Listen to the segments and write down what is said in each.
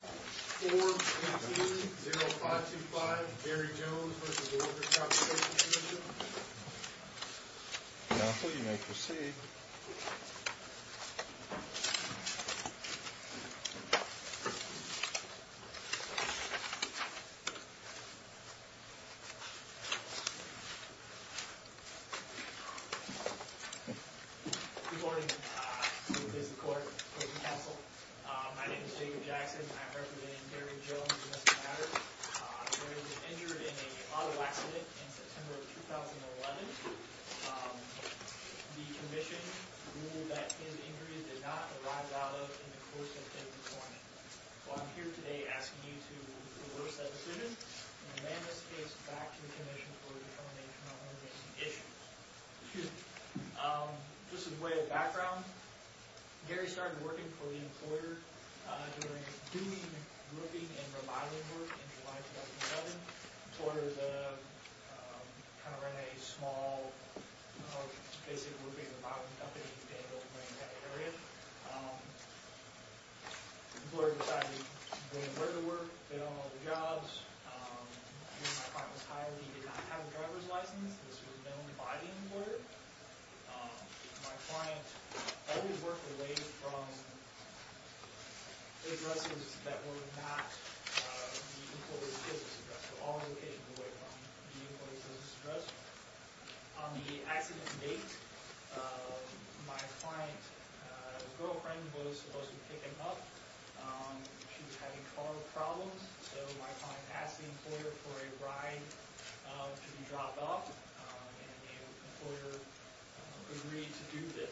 422-0525, Barry Jones with the Workers' Compensation Commission. Now, please proceed. Good morning. This is the Court of Appeals Counsel. My name is Jacob Jackson. I'm representing Barry Jones in this matter. Barry was injured in an auto accident in September 2011. The commission ruled that his injury did not arise out of the course of his employment. So I'm here today asking you to reverse that decision and amend this case back to the commission for determination of emergency issues. Excuse me. Just as a way of background, Barry started working for the employer during doing looking and revising work in July 2007 The employer kind of ran a small, basic working environment up in the Danville area. The employer decided he didn't know where to work, they don't know the jobs. My client was hired and he did not have a driver's license. This was known by the employer. My client always worked away from addresses that were not the employer's business address, so always working away from the employer's business address. On the accident date, my client's girlfriend was supposed to pick him up. She was having car problems, so my client asked the employer for a ride to be dropped off. The employer agreed to do this.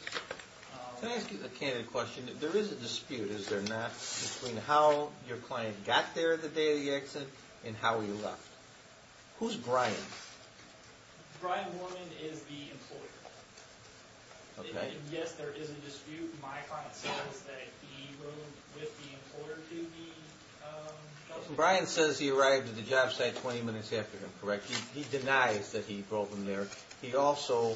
Can I ask you a candid question? There is a dispute, is there not, between how your client got there the day of the accident and how he left. Who's Brian? Brian Mormon is the employer. Yes, there is a dispute. My client says that he rode with the employer to the job site. He denies that he drove him there. He also,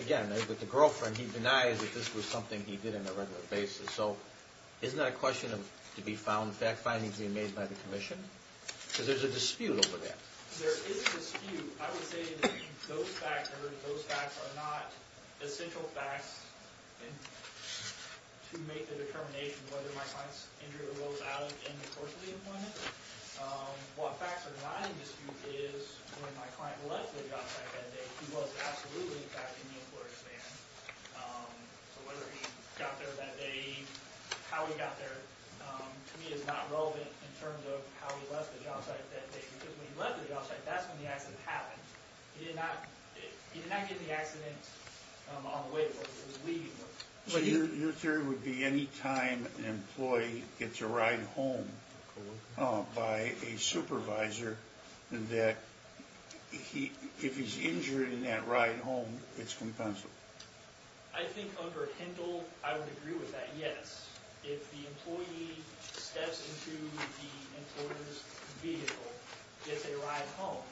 again, with the girlfriend, he denies that this was something he did on a regular basis. So, isn't that a question to be found, fact findings being made by the commission? Because there's a dispute over that. There is a dispute. I would say that those facts are not essential facts to make the determination whether my client's injured or was out in the course of the appointment. What facts are not in dispute is when my client left the job site that day, he was absolutely in fact in the employer's van. So whether he got there that day, how he got there, to me is not relevant in terms of how he left the job site that day. Because when he left the job site, that's when the accident happened. He did not get in the accident on the way. So your theory would be any time an employee gets a ride home by a supervisor, that if he's injured in that ride home, it's compensable? I think under HINDLE, I would agree with that, yes. If the employee steps into the employer's vehicle, gets a ride home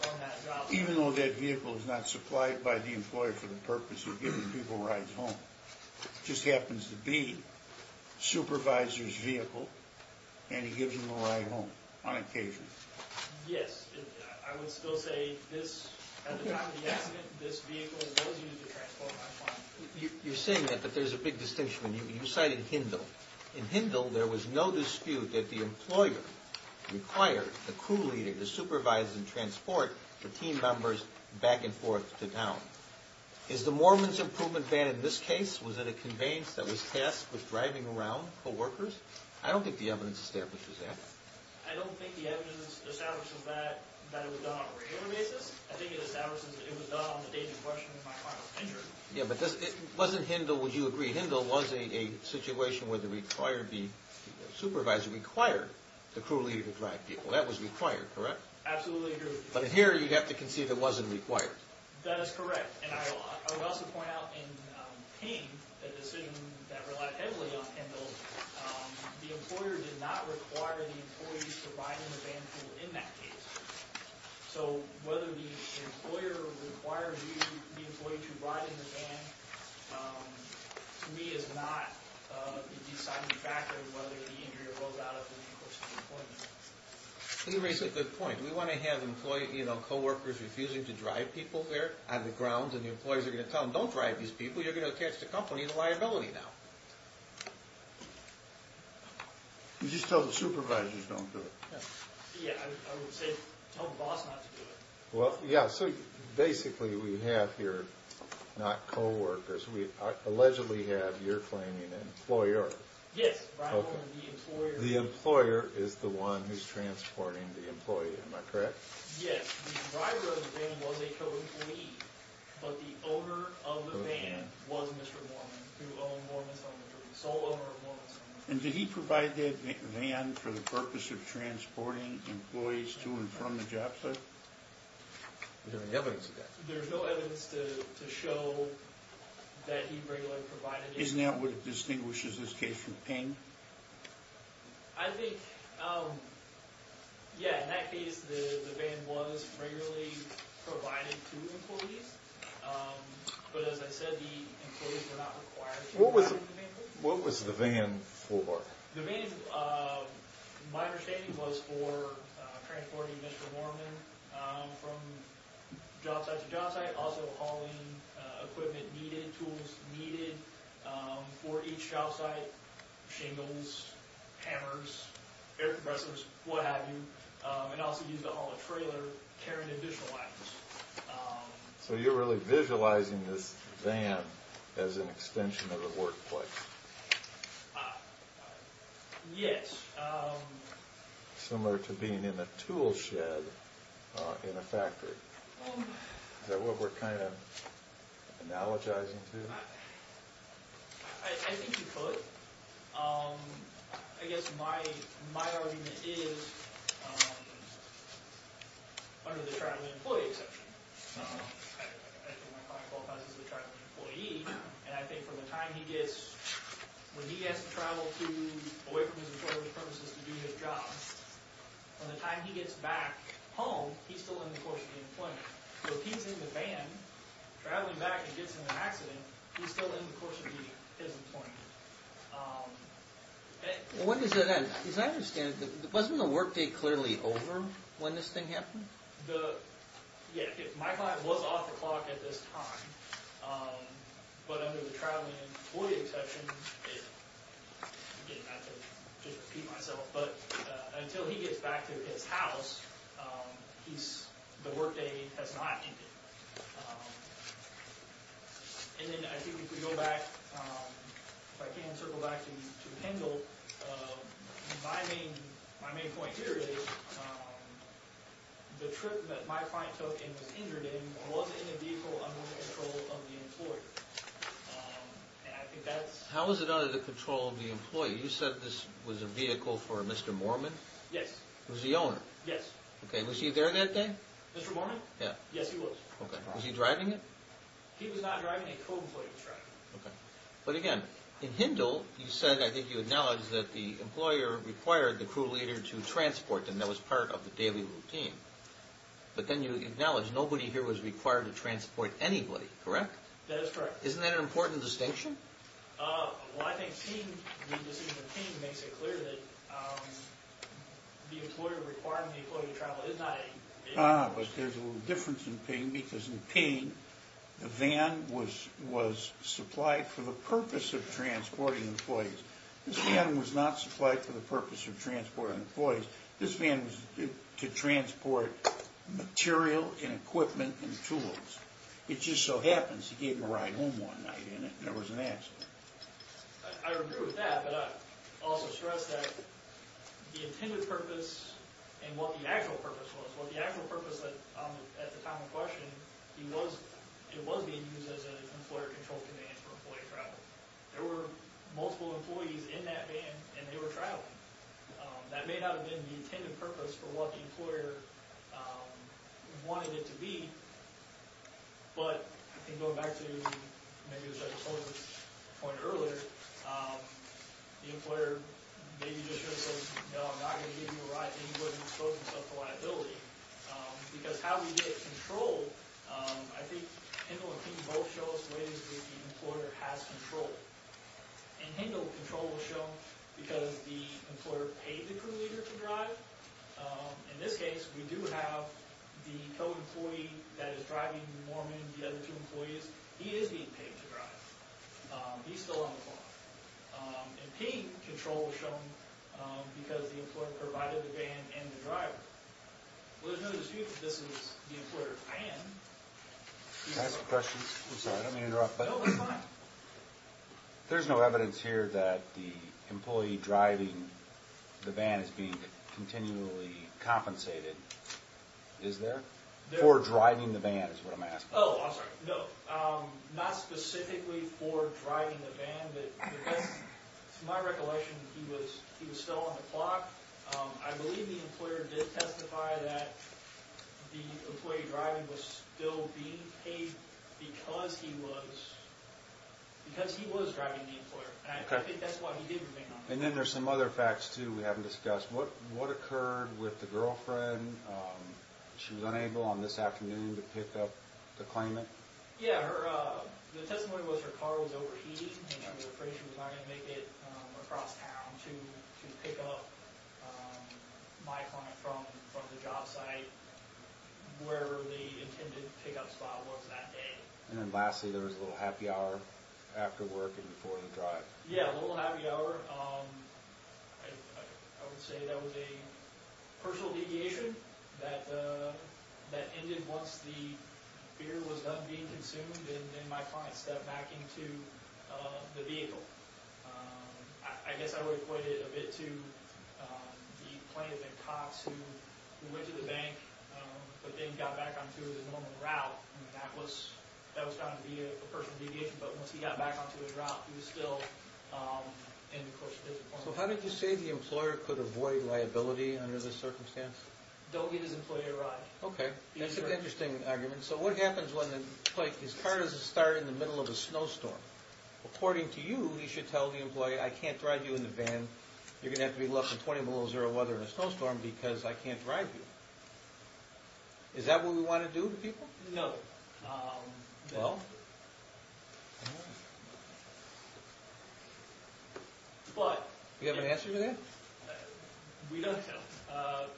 from that job site. Even though that vehicle is not supplied by the employer for the purpose of giving people rides home, it just happens to be the supervisor's vehicle, and he gives them a ride home on occasion. Yes, I would still say at the time of the accident, this vehicle was used to transport my client. You're saying that, but there's a big distinction. You cited HINDLE. In HINDLE, there was no dispute that the employer required the crew leader to supervise and transport the team members back and forth to town. Is the Moorman's Improvement Van in this case, was it a conveyance that was tasked with driving around co-workers? I don't think the evidence establishes that. I don't think the evidence establishes that it was done on a regular basis. I think it establishes that it was done on the day of the question when my client was injured. Yeah, but wasn't HINDLE, would you agree? HINDLE was a situation where the supervisor required the crew leader to drive people. That was required, correct? Absolutely. But here, you'd have to concede it wasn't required. That is correct. And I would also point out in PING, a decision that relied heavily on HINDLE, the employer did not require the employees to ride in the van pool in that case. So whether the employer required the employee to ride in the van, to me, is not a deciding factor whether the injury arose out of an increase in employment. You raise a good point. We want to have co-workers refusing to drive people there on the ground, and the employees are going to tell them, don't drive these people, you're going to attach the company to liability now. You just tell the supervisors don't do it. Yeah, I would say tell the boss not to do it. Well, yeah, so basically we have here not co-workers. We allegedly have, you're claiming, an employer. Yes, rivaling the employer. The employer is the one who's transporting the employee, am I correct? Yes. The driver of the van was a co-employee, but the owner of the van was Mr. Mormon, and did he provide that van for the purpose of transporting employees to and from the job site? There's no evidence of that. There's no evidence to show that he regularly provided it. Isn't that what distinguishes this case from Ping? I think, yeah, in that case, the van was regularly provided to employees, but as I said, the employees were not required to ride in the van pool. What was the van for? The van, my understanding was for transporting Mr. Mormon from job site to job site, also hauling equipment needed, tools needed for each job site, shingles, hammers, air compressors, what have you, and also used to haul a trailer, carrying additional items. So you're really visualizing this van as an extension of the workplace? Yes. Similar to being in a tool shed in a factory. Is that what we're kind of analogizing to? I think you could. I guess my argument is under the traveling employee exception. I think my class qualifies as a traveling employee, and I think from the time he gets, when he has to travel away from his employer's purposes to do his job, from the time he gets back home, he's still in the course of the employment. So if he's in the van traveling back and gets in an accident, he's still in the course of his employment. When does that end? As I understand it, wasn't the workday clearly over when this thing happened? Yeah, my class was off the clock at this time. But under the traveling employee exception, until he gets back to his house, the workday has not ended. I think if we go back, if I can circle back to Kendall, my main point here is the trip that my client took and was injured in was in a vehicle under the control of the employer. How was it under the control of the employee? You said this was a vehicle for Mr. Mormon? Yes. Who's the owner? Yes. Was he there that day? Mr. Mormon? Yes, he was. Was he driving it? He was not driving a co-employee truck. But again, in Hindle, you said, I think you acknowledged, that the employer required the crew leader to transport them. That was part of the daily routine. But then you acknowledged nobody here was required to transport anybody, correct? That is correct. Isn't that an important distinction? Well, I think seeing the decision of PING makes it clear that the employer requiring the employee to travel is not a vehicle. But there's a little difference in PING because in PING, the van was supplied for the purpose of transporting employees. This van was not supplied for the purpose of transporting employees. This van was to transport material and equipment and tools. It just so happens he gave them a ride home one night and there was an accident. I agree with that, but I also stress that the intended purpose and what the actual purpose was. Well, the actual purpose at the time of question, it was being used as an employer-controlled van for employee travel. There were multiple employees in that van and they were traveling. That may not have been the intended purpose for what the employer wanted it to be, but I think going back to maybe what I told you earlier, the employer maybe just should have said, no, I'm not going to give you a ride and he wouldn't have exposed himself to liability. Because how we get control, I think HINDL and PING both show us ways that the employer has control. And HINDL control was shown because the employer paid the crew leader to drive. In this case, we do have the co-employee that is driving Norman, the other two employees, he is being paid to drive. He's still on the phone. And PING control was shown because the employer provided the van and the driver. Well, there's no dispute that this is the employer's van. Can I ask a question? I'm sorry, I don't mean to interrupt. No, that's fine. There's no evidence here that the employee driving the van is being continually compensated. Is there? For driving the van is what I'm asking. Oh, I'm sorry. No. Not specifically for driving the van. To my recollection, he was still on the clock. I believe the employer did testify that the employee driving was still being paid because he was driving the employer. And I think that's why he did remain on the clock. And then there's some other facts too we haven't discussed. What occurred with the girlfriend? She was unable on this afternoon to pick up the claimant? Yeah, the testimony was her car was overheating and she was afraid she was not going to make it across town to pick up my client from the job site where the intended pickup spot was that day. And then lastly, there was a little happy hour after work and before the drive. Yeah, a little happy hour. I would say that was a personal deviation that ended once the beer was done being consumed and then my client stepped back into the vehicle. I guess I would equate it a bit to the plaintiff and cops who went to the bank but then got back onto the normal route. That was found to be a personal deviation, but once he got back onto his route, he was still in the course of his employment. So how did you say the employer could avoid liability under this circumstance? Don't get his employee to ride. Okay, that's an interesting argument. So what happens when his car doesn't start in the middle of a snowstorm? According to you, he should tell the employee, I can't drive you in the van. You're going to have to be left in 20 below zero weather in a snowstorm because I can't drive you. Is that what we want to do to people? No. No? Do you have an answer to that? We don't have.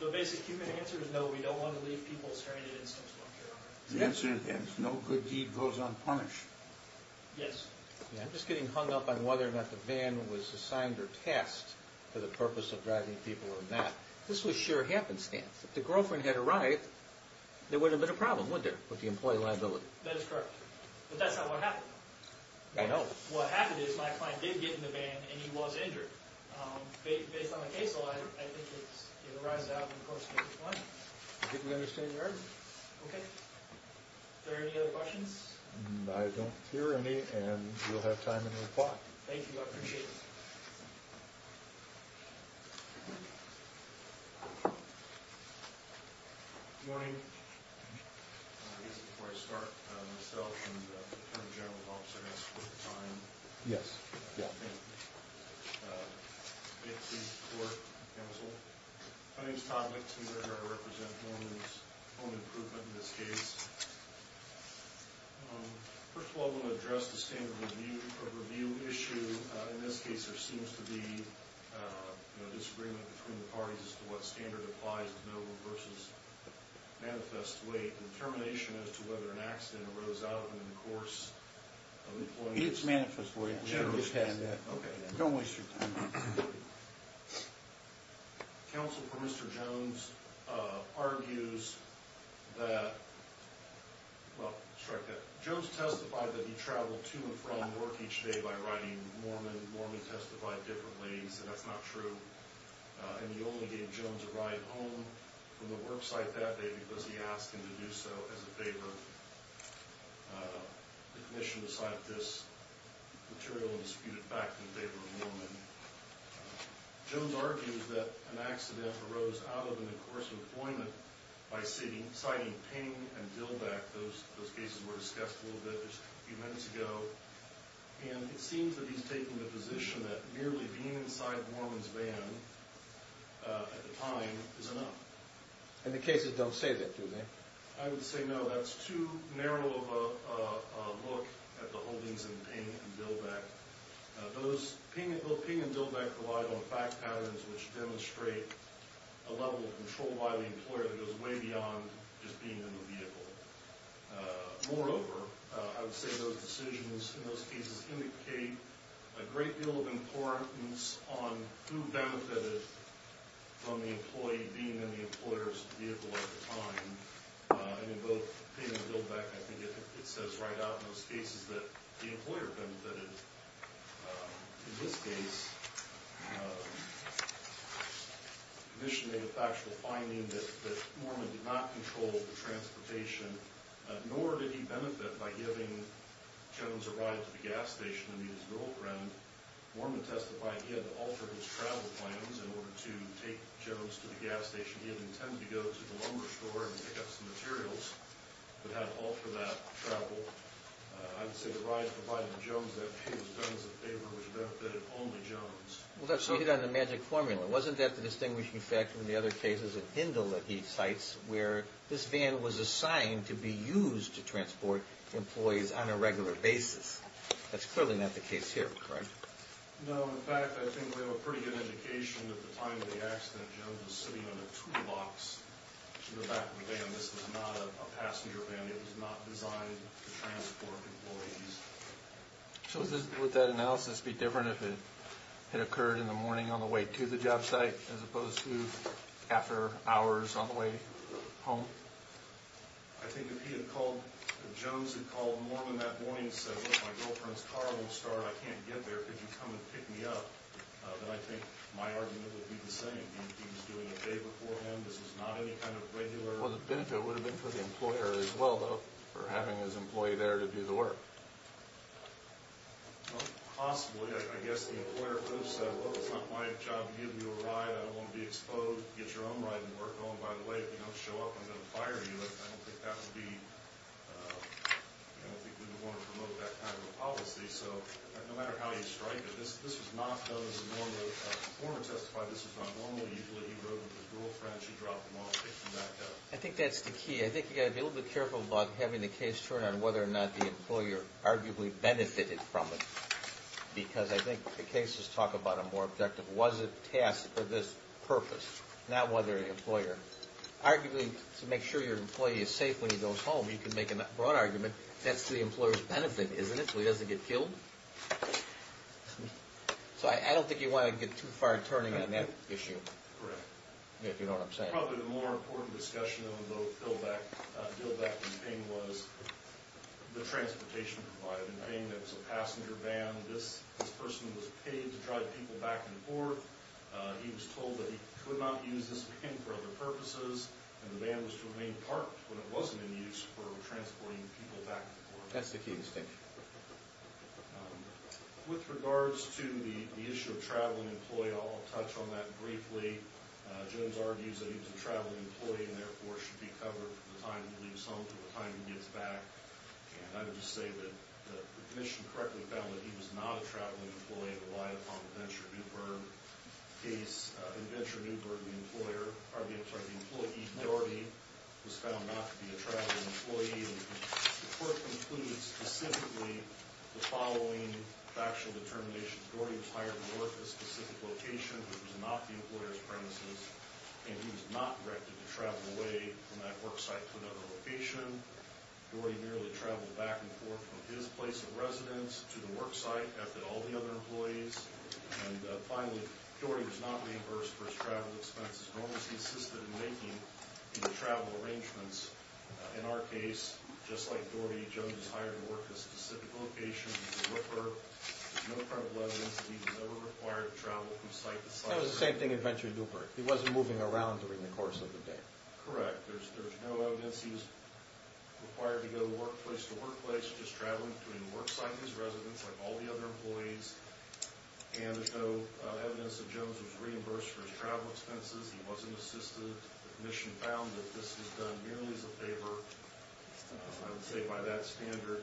The basic human answer is no, we don't want to leave people stranded in a snowstorm. The answer is no good deed goes unpunished. Yes. I'm just getting hung up on whether or not the van was assigned or tasked for the purpose of driving people or not. This was sure happenstance. If the girlfriend had arrived, there wouldn't have been a problem, would there, with the employee liability? That is correct. But that's not what happened. I know. What happened is my client did get in the van, and he was injured. Based on the case law, I think it arises out of the course of case one. I think we understand your argument. Okay. Are there any other questions? I don't hear any, and you'll have time to reply. Thank you, I appreciate it. Good morning. I guess before I start, myself and the Attorney General's office are going to split the time. Yes. Thank you. It's the Court Counsel. My name is Todd Lichtenberger. I represent Home Improvement in this case. First of all, I want to address the standard review issue. In this case, there seems to be a disagreement between the parties as to what standard applies to noble versus manifest weight, and termination as to whether an accident arose out of it in the course of the employment. It's manifest weight. Okay. Don't waste your time. Counsel for Mr. Jones argues that, well, strike that. Jones testified that he traveled to and from work each day by riding Mormon. Mormon testified differently. He said that's not true. And he only gave Jones a ride home from the work site that day because he asked him to do so as a favor. The commission decided this material and disputed it back in favor of Mormon. Jones argues that an accident arose out of it in the course of employment by citing Ping and Dillbeck. Those cases were discussed a little bit just a few minutes ago. And it seems that he's taking the position that merely being inside Mormon's van at the time is enough. And the cases don't say that, do they? I would say no. That's too narrow of a look at the holdings in Ping and Dillbeck. Those Ping and Dillbeck rely on fact patterns which demonstrate a level of control by the employer that goes way beyond just being in the vehicle. Moreover, I would say those decisions in those cases indicate a great deal of importance on who benefited from the employee being in the employer's vehicle at the time. And in both Ping and Dillbeck, I think it says right out in those cases that the employer benefited. In this case, the commission made a factual finding that Mormon did not control the transportation, nor did he benefit by giving Jones a ride to the gas station and meet his girlfriend. Mormon testified he had to alter his travel plans in order to take Jones to the gas station. He had intended to go to the lumber store and pick up some materials, but had to alter that travel. I would say the ride provided to Jones that he was done as a favor, which meant that it was only Jones. So you hit on the magic formula. Wasn't that the distinguishing factor in the other cases at Hindle that he cites, where this van was assigned to be used to transport employees on a regular basis? That's clearly not the case here, correct? No. In fact, I think we have a pretty good indication that at the time of the accident, Jones was sitting on a two-box in the back of the van. This was not a passenger van. It was not designed to transport employees. So would that analysis be different if it had occurred in the morning on the way to the job site as opposed to after hours on the way home? I think if Jones had called Mormon that morning and said, look, my girlfriend's car won't start. I can't get there. Could you come and pick me up? Then I think my argument would be the same. He was doing a favor for him. This was not any kind of regular— The benefit would have been for the employer as well, though, for having his employee there to do the work. Possibly. I guess the employer could have said, well, it's not my job to give you a ride. I don't want to be exposed. Get your own ride and work on. By the way, if you don't show up, I'm going to fire you. I don't think that would be—I don't think we would want to promote that kind of a policy. So no matter how you strike it, this was not done as a normal— I think that's the key. I think you've got to be a little bit careful about having the case turn on whether or not the employer arguably benefited from it. Because I think the cases talk about a more objective, was it tasked for this purpose, not whether the employer— Arguably, to make sure your employee is safe when he goes home, you can make a broad argument, that's to the employer's benefit, isn't it, so he doesn't get killed? So I don't think you want to get too far turning on that issue. Correct. If you know what I'm saying. I think probably the more important discussion on the bill back in Ping was the transportation provided in Ping. It was a passenger van. This person was paid to drive people back and forth. He was told that he could not use this van for other purposes. And the van was to remain parked when it wasn't in use for transporting people back and forth. That's the key distinction. With regards to the issue of traveling employee, I'll touch on that briefly. Jones argues that he was a traveling employee and therefore should be covered from the time he leaves home to the time he gets back. And I would just say that the commission correctly found that he was not a traveling employee and relied upon the Venture Newberg case. In Venture Newberg, the employer argues that the employee, Doherty, was found not to be a traveling employee. And the court concluded specifically the following factual determination. Doherty was hired to work at a specific location, which was not the employer's premises. And he was not directed to travel away from that work site to another location. Doherty merely traveled back and forth from his place of residence to the work site after all the other employees. And finally, Doherty was not reimbursed for his travel expenses, nor was he assisted in making any travel arrangements. In our case, just like Doherty, Jones was hired to work at a specific location. There's no credible evidence that he was ever required to travel from site to site. That was the same thing in Venture Newberg. He wasn't moving around during the course of the day. Correct. There's no evidence he was required to go from workplace to workplace. Just traveling between the work site and his residence like all the other employees. And there's no evidence that Jones was reimbursed for his travel expenses. He wasn't assisted. The commission found that this was done merely as a favor. I would say by that standard,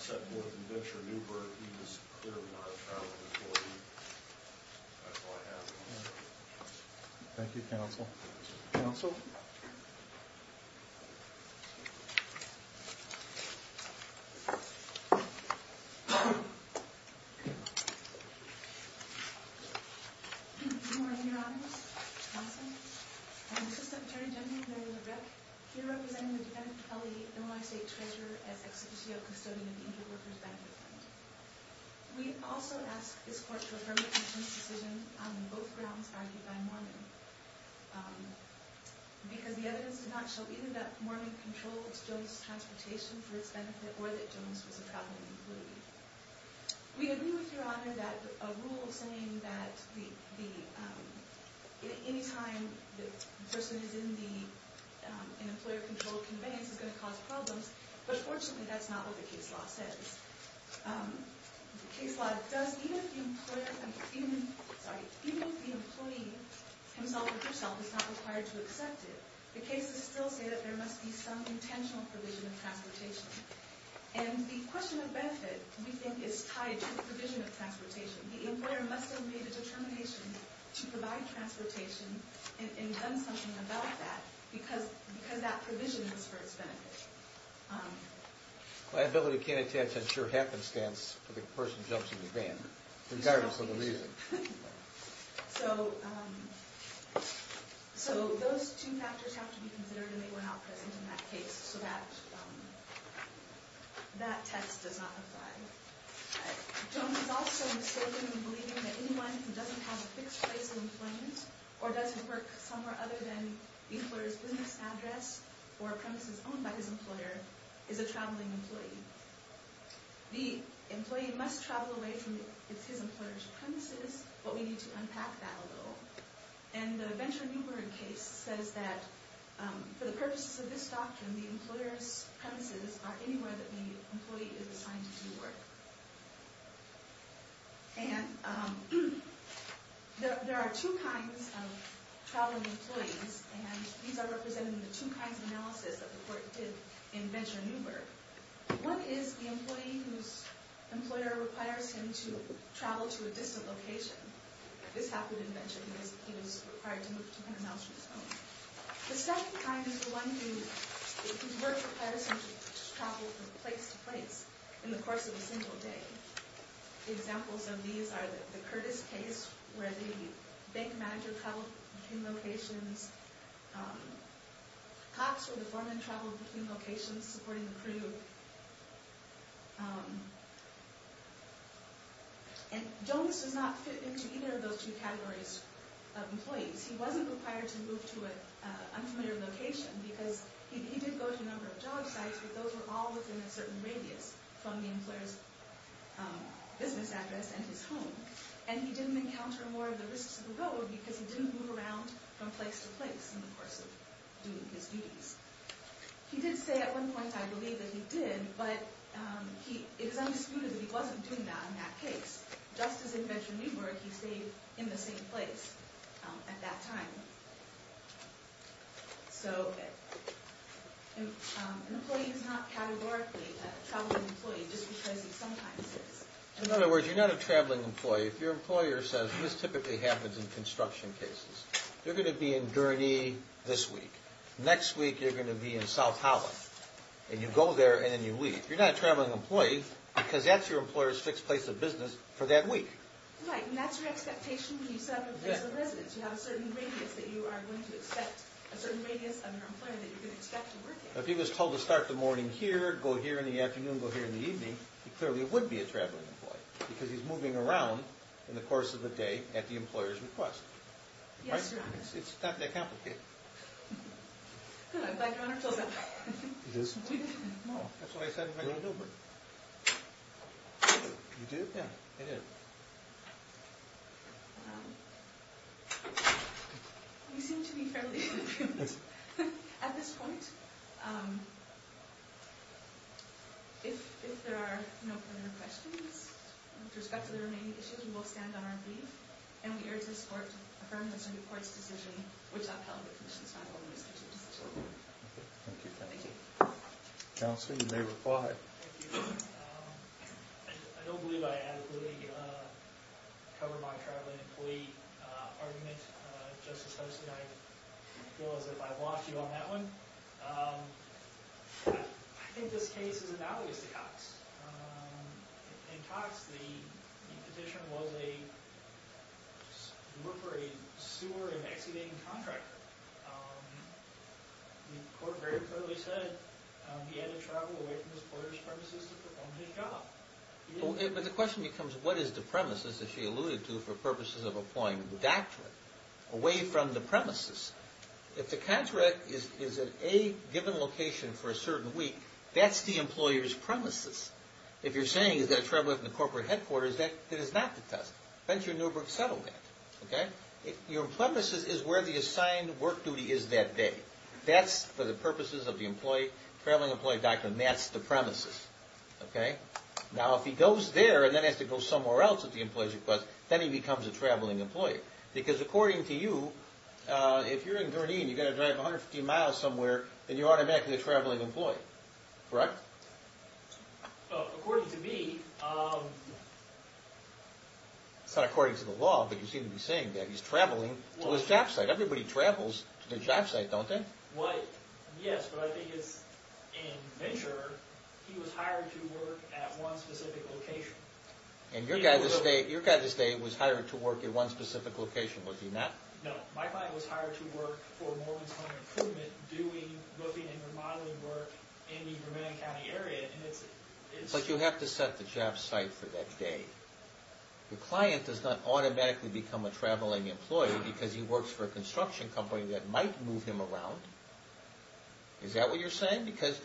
set forth in Venture Newberg, he was clearly not a travel employee. That's all I have. Thank you, counsel. Counsel? Good morning, Your Honor. Counsel. I'm Assistant Attorney General Mary LaRocque. Here representing the defendant, Kelly Illinois State Treasurer, as ex officio custodian of the Inter-Workers Banking Fund. We also ask this court to affirm the commission's decision on both grounds argued by Mormon. Because the evidence did not show either that Mormon controlled Jones' transportation for its benefit or that Jones was a traveling employee. We agree with Your Honor that a rule saying that any time a person is in an employer-controlled conveyance is going to cause problems. But fortunately, that's not what the case law says. The case law does, even if the employee himself is not required to accept it, the cases still say that there must be some intentional provision of transportation. And the question of benefit, we think, is tied to the provision of transportation. The employer must have made a determination to provide transportation and done something about that because that provision is for its benefit. Liability can't attend to a sure happenstance if a person jumps in the van regardless of the reason. So those two factors have to be considered and they were not present in that case, so that test does not apply. Jones is also mistaken in believing that anyone who doesn't have a fixed place of employment or doesn't work somewhere other than the employer's business address or premises owned by his employer is a traveling employee. The employee must travel away from his employer's premises, but we need to unpack that a little. And the Venture Newberg case says that for the purposes of this doctrine, the employer's premises are anywhere that the employee is assigned to do work. And there are two kinds of traveling employees and these are represented in the two kinds of analysis that the court did in Venture Newberg. One is the employee whose employer requires him to travel to a distant location. This happened in Venture because he was required to move 200 miles from his home. The second kind is the one whose work requires him to travel from place to place in the course of a single day. Examples of these are the Curtis case where the bank manager traveled between locations, Cox where the foreman traveled between locations supporting the crew. And Jones does not fit into either of those two categories of employees. He wasn't required to move to an unfamiliar location because he did go to a number of job sites, but those were all within a certain radius from the employer's business address and his home. And he didn't encounter more of the risks of the road because he didn't move around from place to place in the course of doing his duties. He did say at one point, I believe, that he did, but it is undisputed that he wasn't doing that in that case. Just as in Venture Newberg, he stayed in the same place at that time. An employee is not categorically a traveling employee just because he sometimes is. In other words, you're not a traveling employee. If your employer says, and this typically happens in construction cases, you're going to be in Gurney this week. Next week you're going to be in South Holland. And you go there and then you leave. You're not a traveling employee because that's your employer's fixed place of business for that week. If he was told to start the morning here, go here in the afternoon, go here in the evening, he clearly would be a traveling employee because he's moving around in the course of the day at the employer's request. It's not that complicated. Do you want to do it? You do? Yeah. You seem to be fairly inappropriate at this point. If there are no further questions with respect to the remaining issues, we will stand on our leave. And we urge this Court to affirm Mr. Newport's decision, which upheld the Commission's final decision. Thank you. Thank you. Counsel, you may reply. Thank you. I don't believe I adequately covered my traveling employee argument. Justice Host and I feel as if I've lost you on that one. I think this case is analogous to Cox. In Cox, the petition was for a sewer and excavating contractor. The Court very clearly said he had to travel away from his employer's premises to perform his job. But the question becomes, what is the premises that she alluded to for purposes of applying the doctorate? Away from the premises. If the contractor is at a given location for a certain week, that's the employer's premises. If you're saying he's got to travel from the corporate headquarters, that is not the test. Venture and Newbrook settled that. Your premises is where the assigned work duty is that day. That's for the purposes of the traveling employee doctor, and that's the premises. Now, if he goes there and then has to go somewhere else at the employee's request, then he becomes a traveling employee. Because according to you, if you're in Gurneen and you've got to drive 150 miles somewhere, then you're automatically a traveling employee. Correct? According to me... It's not according to the law, but you seem to be saying that he's traveling to his job site. Everybody travels to their job site, don't they? Yes, but I think in Venture, he was hired to work at one specific location. And your guy at the state was hired to work at one specific location, was he not? No, my client was hired to work for Morgan's Home Improvement, doing roofing and remodeling work in the Vermillion County area. But you have to set the job site for that day. The client does not automatically become a traveling employee because he works for a construction company that might move him around. Is that what you're saying? Because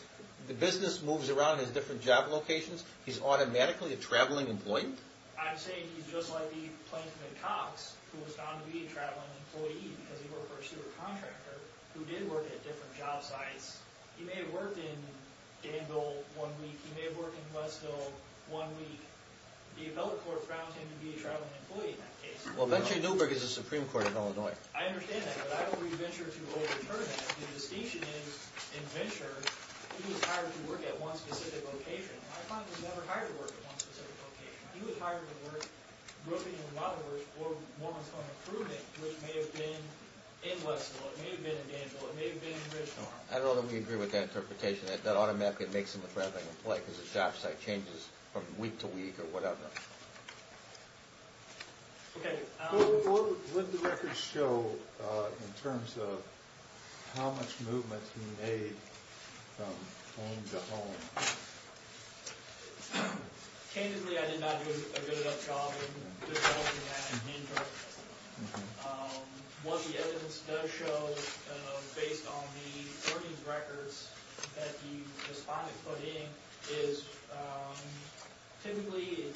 the business moves around in his different job locations, he's automatically a traveling employee? I'm saying he's just like the plaintiff in Cox, who was found to be a traveling employee because he worked for a supercontractor who did work at different job sites. He may have worked in Danville one week, he may have worked in Westville one week. The Appellate Court grounds him to be a traveling employee in that case. Well, Venture Newberg is the Supreme Court of Illinois. I understand that, but I don't read Venture to overturn that. The distinction is, in Venture, he was hired to work at one specific location. My client was never hired to work at one specific location. He was hired to work, roofing and remodeling work for Morgan's Home Improvement, which may have been in Westville, it may have been in Danville, it may have been in Gridstone. I don't know that we agree with that interpretation, that automatically makes him a traveling employee because the job site changes from week to week or whatever. Okay. What did the records show in terms of how much movement he made from home to home? Candidly, I did not do a good enough job in developing that in Venture. What the evidence does show, based on the earnings records that the respondent put in, is typically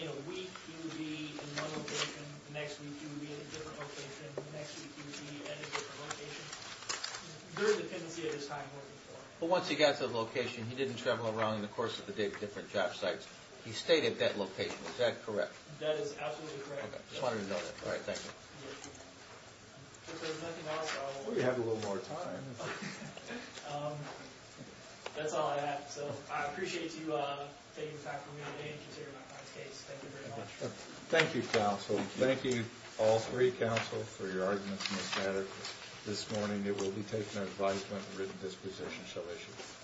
in a week, he would be in one location. The next week, he would be in a different location. The next week, he would be at a different location. There is a tendency at this time to work for him. But once he got to the location, he didn't travel around in the course of the day to different job sites. He stayed at that location. Is that correct? That is absolutely correct. Okay. Just wanted to know that. All right. Thank you. If there's nothing else, I'll... We have a little more time. That's all I have. So I appreciate you taking the time for me today and considering my client's case. Thank you very much. Thank you, counsel. Thank you, all three counsel, for your arguments in this matter. This morning, it will be taken as advisement and written disposition. So I should...